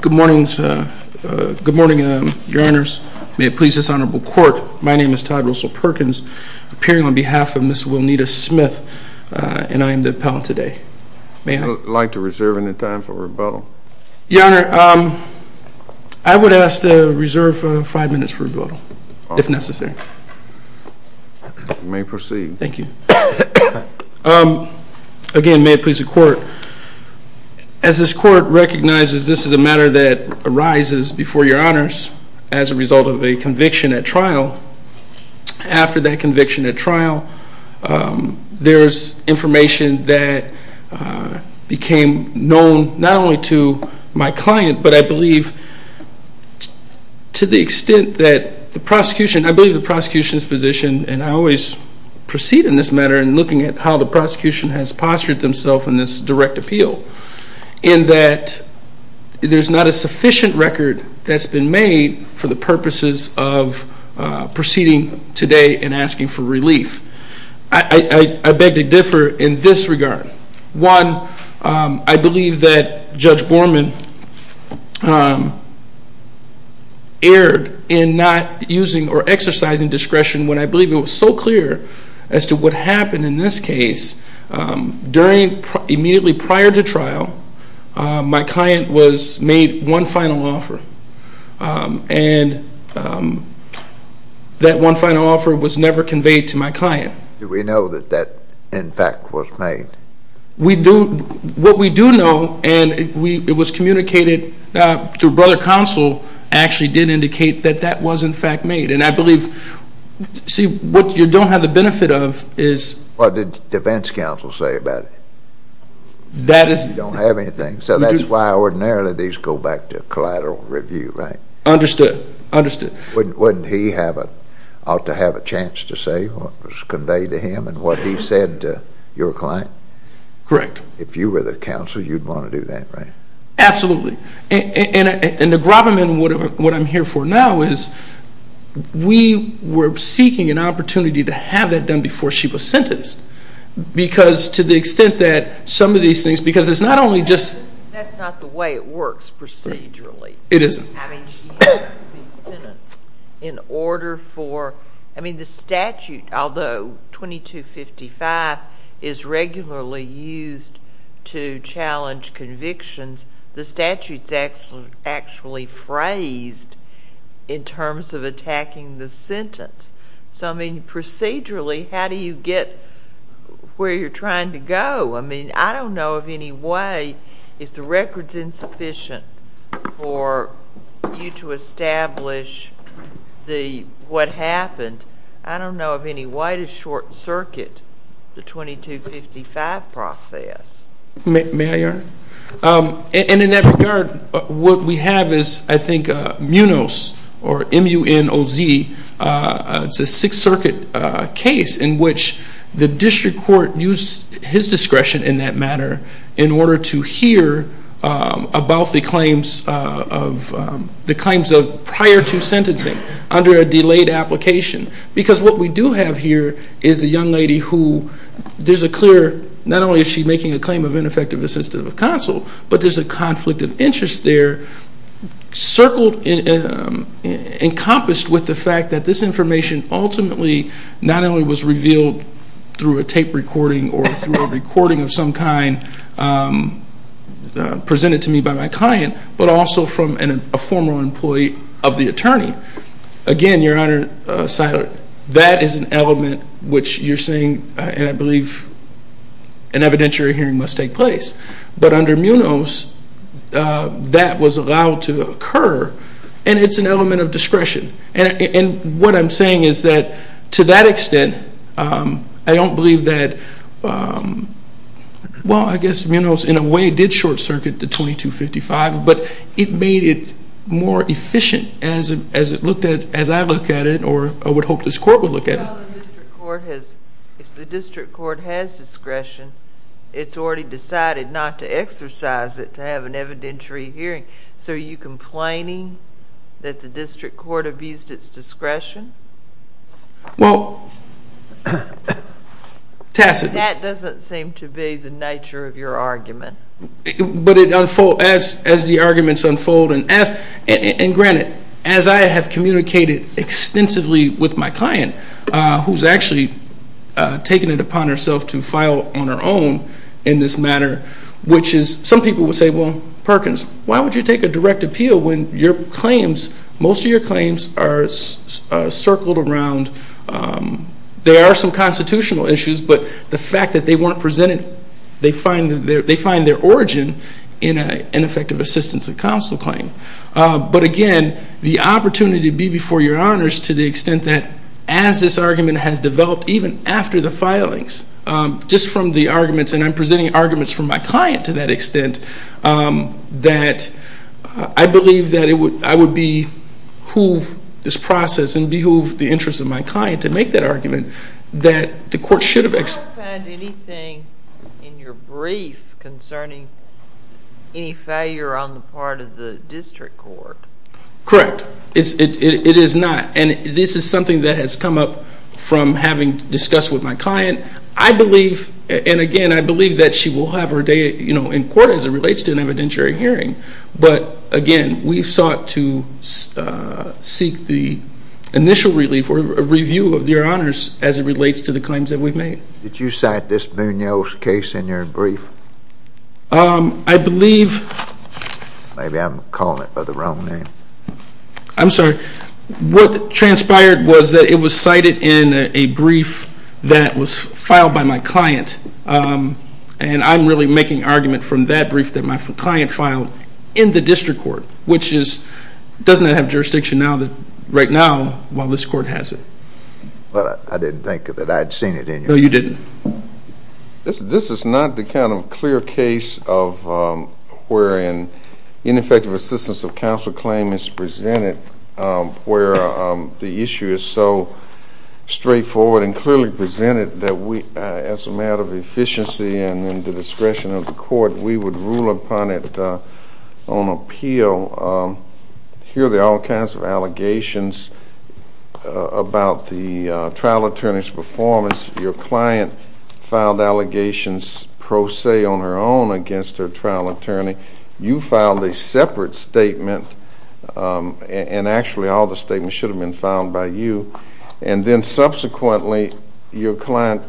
Good morning, sir. Good morning, your honors. May it please this honorable court, my name is Todd Russell Perkins, appearing on behalf of Ms. Wilnita Smith, and I am the appellant today. May I? I'd like to reserve any time for rebuttal. Your honor, I would ask to reserve five minutes for rebuttal, if necessary. May proceed. Thank you. Again, may it please the court. As this court recognizes this is a matter that arises before your honors as a result of a conviction at trial, after that conviction at trial, there's information that became known, not only to my client, but I believe to the extent that the prosecution, I believe the prosecution's position, and I always proceed in this matter in looking at how the prosecution has postured themselves in this direct appeal, in that there's not a sufficient record that's been made for the purposes of proceeding today and asking for relief. I beg to differ in this regard. One, I believe that Judge Borman erred in not using or exercising discretion when I believe it was so clear as to what happened in this case, during, immediately prior to trial, my client was made one final offer, and that one final offer was never conveyed to my client. Do we know that that, in fact, was made? We do. What we do know, and it was communicated through brother counsel, actually did indicate that that was, in fact, made. And I believe, see, what you don't have the benefit of is... What did defense counsel say about it? That is... You don't have anything. So that's why ordinarily these go back to collateral review, right? Understood. Understood. Wouldn't he have a, ought to have a chance to say what was conveyed to him and what he said to your client? Correct. If you were the counsel, you'd want to do that, right? Absolutely. And the gravamen, what I'm here for now, is we were seeking an opportunity to have that done before she was sentenced, because to the extent that some of these things, because it's not only just... That's not the way it works procedurally. It isn't. I mean, she has to be sentenced in order for... I mean, the statute, although 2255 is regularly used to challenge convictions, the statute's actually phrased in terms of attacking the sentence. So I mean, procedurally, how do you get where you're trying to go? I mean, I don't know of any way, if the record's insufficient for you to establish what happened, I don't know of any way to short circuit the 2255 process. May I, Your Honor? And in that regard, what we have is, I think, MUNOZ, or M-U-N-O-Z, it's a Sixth Circuit case in which the district court used his discretion in that matter in order to hear about the claims of prior to sentencing under a delayed application. Because what we do have here is a young lady who, there's a clear... Not only is she making a claim of ineffective assistance of counsel, but there's a conflict of interest there encompassed with the fact that this information ultimately not only was revealed through a tape recording or through a recording of some kind presented to me by my client, but also from a former employee of the attorney. Again, Your Honor, that is an element which you're saying, and I believe an evidentiary hearing must take place. But under MUNOZ, that was allowed to occur, and it's an element of discretion. And what I'm saying is that, to that extent, I don't believe that, well, I guess MUNOZ in a way did short circuit the 2255, but it made it more efficient as it looked at, as I look at it, or I would hope this court would look at it. Well, if the district court has discretion, it's already decided not to exercise it to have an evidentiary hearing. So are you complaining that the district court abused its discretion? Well, tacitly... That doesn't seem to be the nature of your argument. But as the arguments unfold, and granted, as I have communicated extensively with my client, who's actually taken it upon herself to file on her own in this matter, which is some people would say, well, Perkins, why would you take a direct appeal when your claims, most of your claims are circled around, there are some constitutional issues, but the fact that they weren't presented, they find their origin in an effective assistance of counsel claim. But again, the opportunity to be before your honors to the extent that as this argument has developed, even after the filings, just from the arguments, and I'm presenting arguments from my client to that extent, that I believe that I would behoove this process and behoove the interest of my client to make that argument that the court should have... I don't find anything in your brief concerning any failure on the part of the district court. Correct. It is not. And this is something that has come up from having discussed with my client. I believe, and again, I believe that she will have her day in court as it relates to an evidentiary hearing. But again, we've sought to seek the initial relief or review of your honors as it relates to the claims that we've made. Did you cite this Munoz case in your brief? I believe... Maybe I'm calling it by the wrong name. I'm sorry. What transpired was that it was cited in a brief that was filed by my client. And I'm really making argument from that brief that my client filed in the district court, which is, doesn't that have jurisdiction now, right now, while this court has it? I didn't think that I'd seen it in your brief. No, you didn't. This is not the kind of clear case of wherein ineffective assistance of counsel claim is presented where the issue is so straightforward and clearly presented that we, as a matter of efficiency and the discretion of the court, we would rule upon it on appeal. Here there are all kinds of allegations about the trial attorney's performance. Your client filed allegations pro se on her own against her trial attorney. You filed a separate statement, and actually all the statements should have been filed by you, and then subsequently your client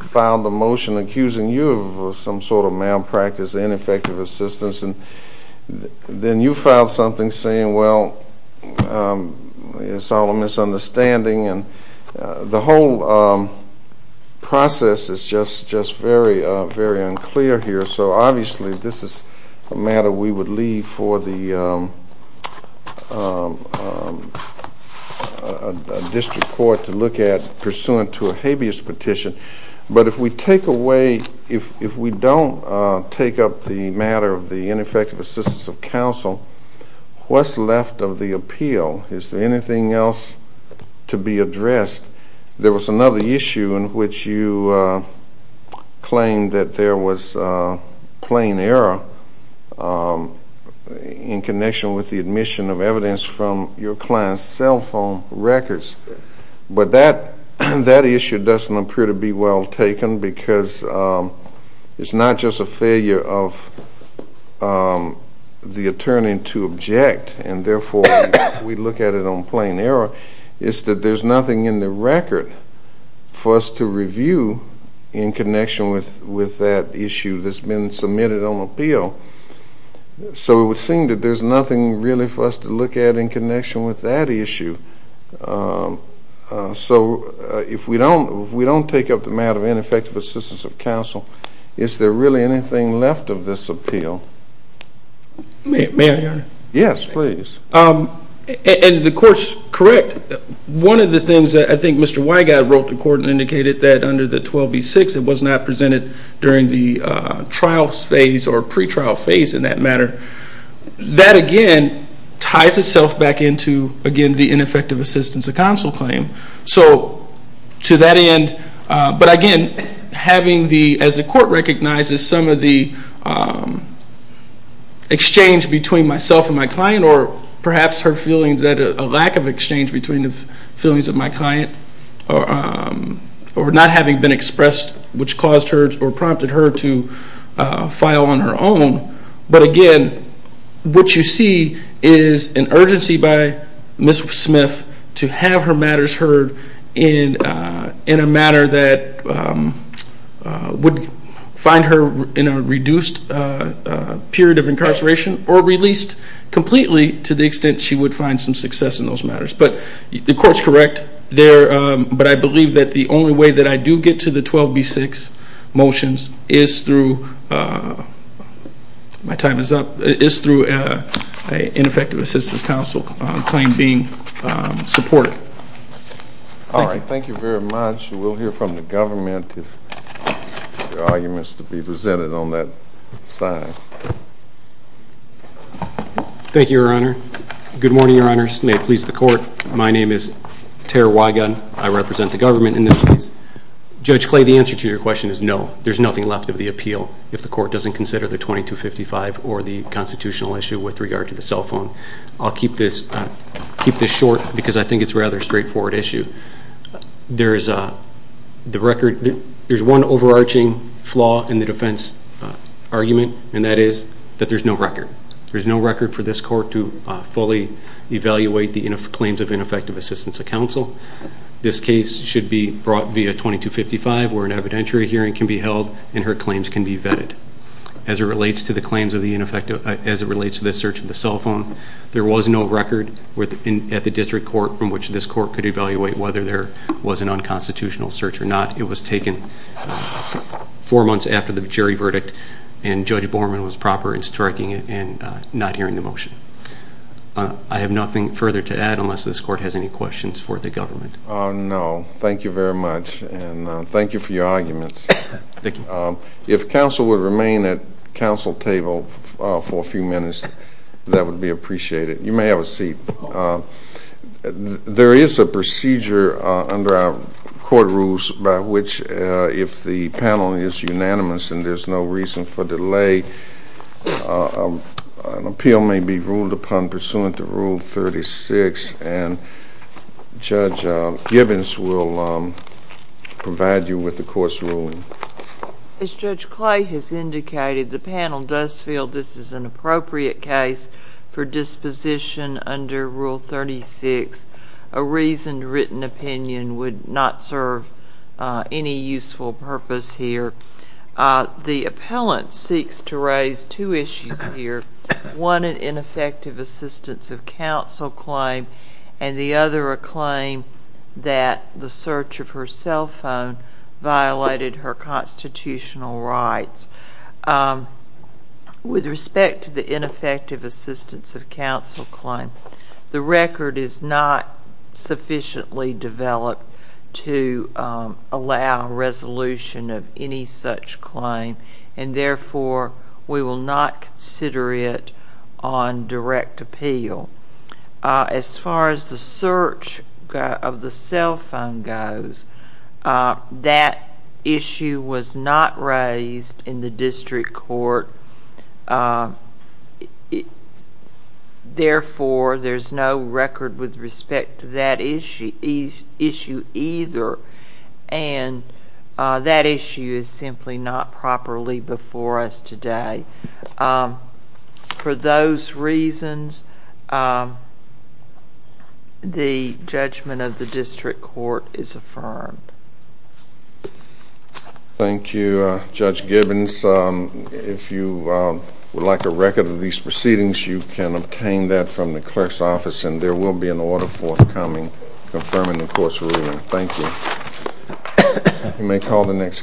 filed a motion accusing you of some sort of malpractice and ineffective assistance. Then you filed something saying, well, it's all a misunderstanding. The whole process is just very, very unclear here. So obviously this is a matter we would leave for the district court to look at pursuant to a habeas petition. But if we take away, if we don't take up the matter of the ineffective assistance of counsel, what's left of the appeal? Is there anything else to be addressed? There was another issue in which you claimed that there was plain error in connection with the admission of evidence from your client's cell phone records. But that issue doesn't appear to be well taken because it's not just a failure of the attorney to object, and therefore we look at it on plain error. It's that there's nothing in the record for us to review in connection with that issue that's been submitted on appeal. So it would seem that there's nothing really for us to look at in connection with that issue. So if we don't take up the matter of ineffective assistance of counsel, is there really anything left of this appeal? May I, Your Honor? Yes, please. And the court's correct. One of the things that I think Mr. Weigott wrote to court and indicated that under the 12B6 it was not presented during the trial phase or pretrial phase in that matter. That again ties itself back into, again, the ineffective assistance of counsel claim. So to that end, but again, having the, as the court recognizes, some of the exchange between myself and my client or perhaps her feelings that a lack of exchange between the feelings of my client or not having been expressed which caused her or prompted her to file on her own. But again, what you see is an urgency by Ms. Smith to have her matters heard in a manner that would find her in a reduced period of incarceration or released completely to the extent she would find some success in those matters. But the court's correct there, but I believe that the only way that I do get to the 12B6 motions is through, my time is up, is through an ineffective assistance counsel claim being supported. Thank you. All right. Thank you very much. We'll hear from the government if there are arguments to be presented on that side. Thank you, Your Honor. Good morning, Your Honors. May it please the court. My name is Tara Weigott. I represent the government in this case. Judge Clay, the answer to your question is no. There's nothing left of the appeal if the court doesn't consider the 2255 or the constitutional issue with regard to the cell phone. I'll keep this short because I think it's a rather straightforward issue. There's one overarching flaw in the defense argument, and that is that there's no record. There's no record for this court to fully evaluate the claims of ineffective assistance of counsel. This case should be brought via 2255 where an evidentiary hearing can be held and her claims can be vetted. As it relates to the claims of the ineffective, as it relates to the search of the cell phone, there was no record at the district court from which this court could evaluate whether there was an unconstitutional search or not. It was taken four months after the jury verdict, and Judge Borman was proper in striking it and not hearing the motion. I have nothing further to add unless this court has any questions for the government. No. Thank you very much, and thank you for your arguments. If counsel would remain at council table for a few minutes, that would be appreciated. You may have a seat. There is a procedure under our court rules by which if the panel is unanimous and there's no reason for delay, an appeal may be ruled upon pursuant to Rule 36, and Judge Gibbons will provide you with the court's ruling. As Judge Clay has indicated, the panel does feel this is an appropriate case for disposition under Rule 36. A reasoned written opinion would not serve any useful purpose here. The appellant seeks to raise two issues here, one an ineffective assistance of counsel claim and the other a claim that the search of her cell phone violated her constitutional rights. With respect to the ineffective assistance of counsel claim, the record is not sufficiently developed to allow resolution of any such claim, and therefore, we will not consider it on direct appeal. As far as the search of the cell phone goes, that issue was not raised in the district court, therefore, there's no record with respect to that issue either, and that issue is simply not properly before us today. For those reasons, the judgment of the district court is affirmed. Thank you, Judge Gibbons. If you would like a record of these proceedings, you can obtain that from the clerk's office, and there will be an order forthcoming confirming the court's ruling. Thank you. You may call the next case.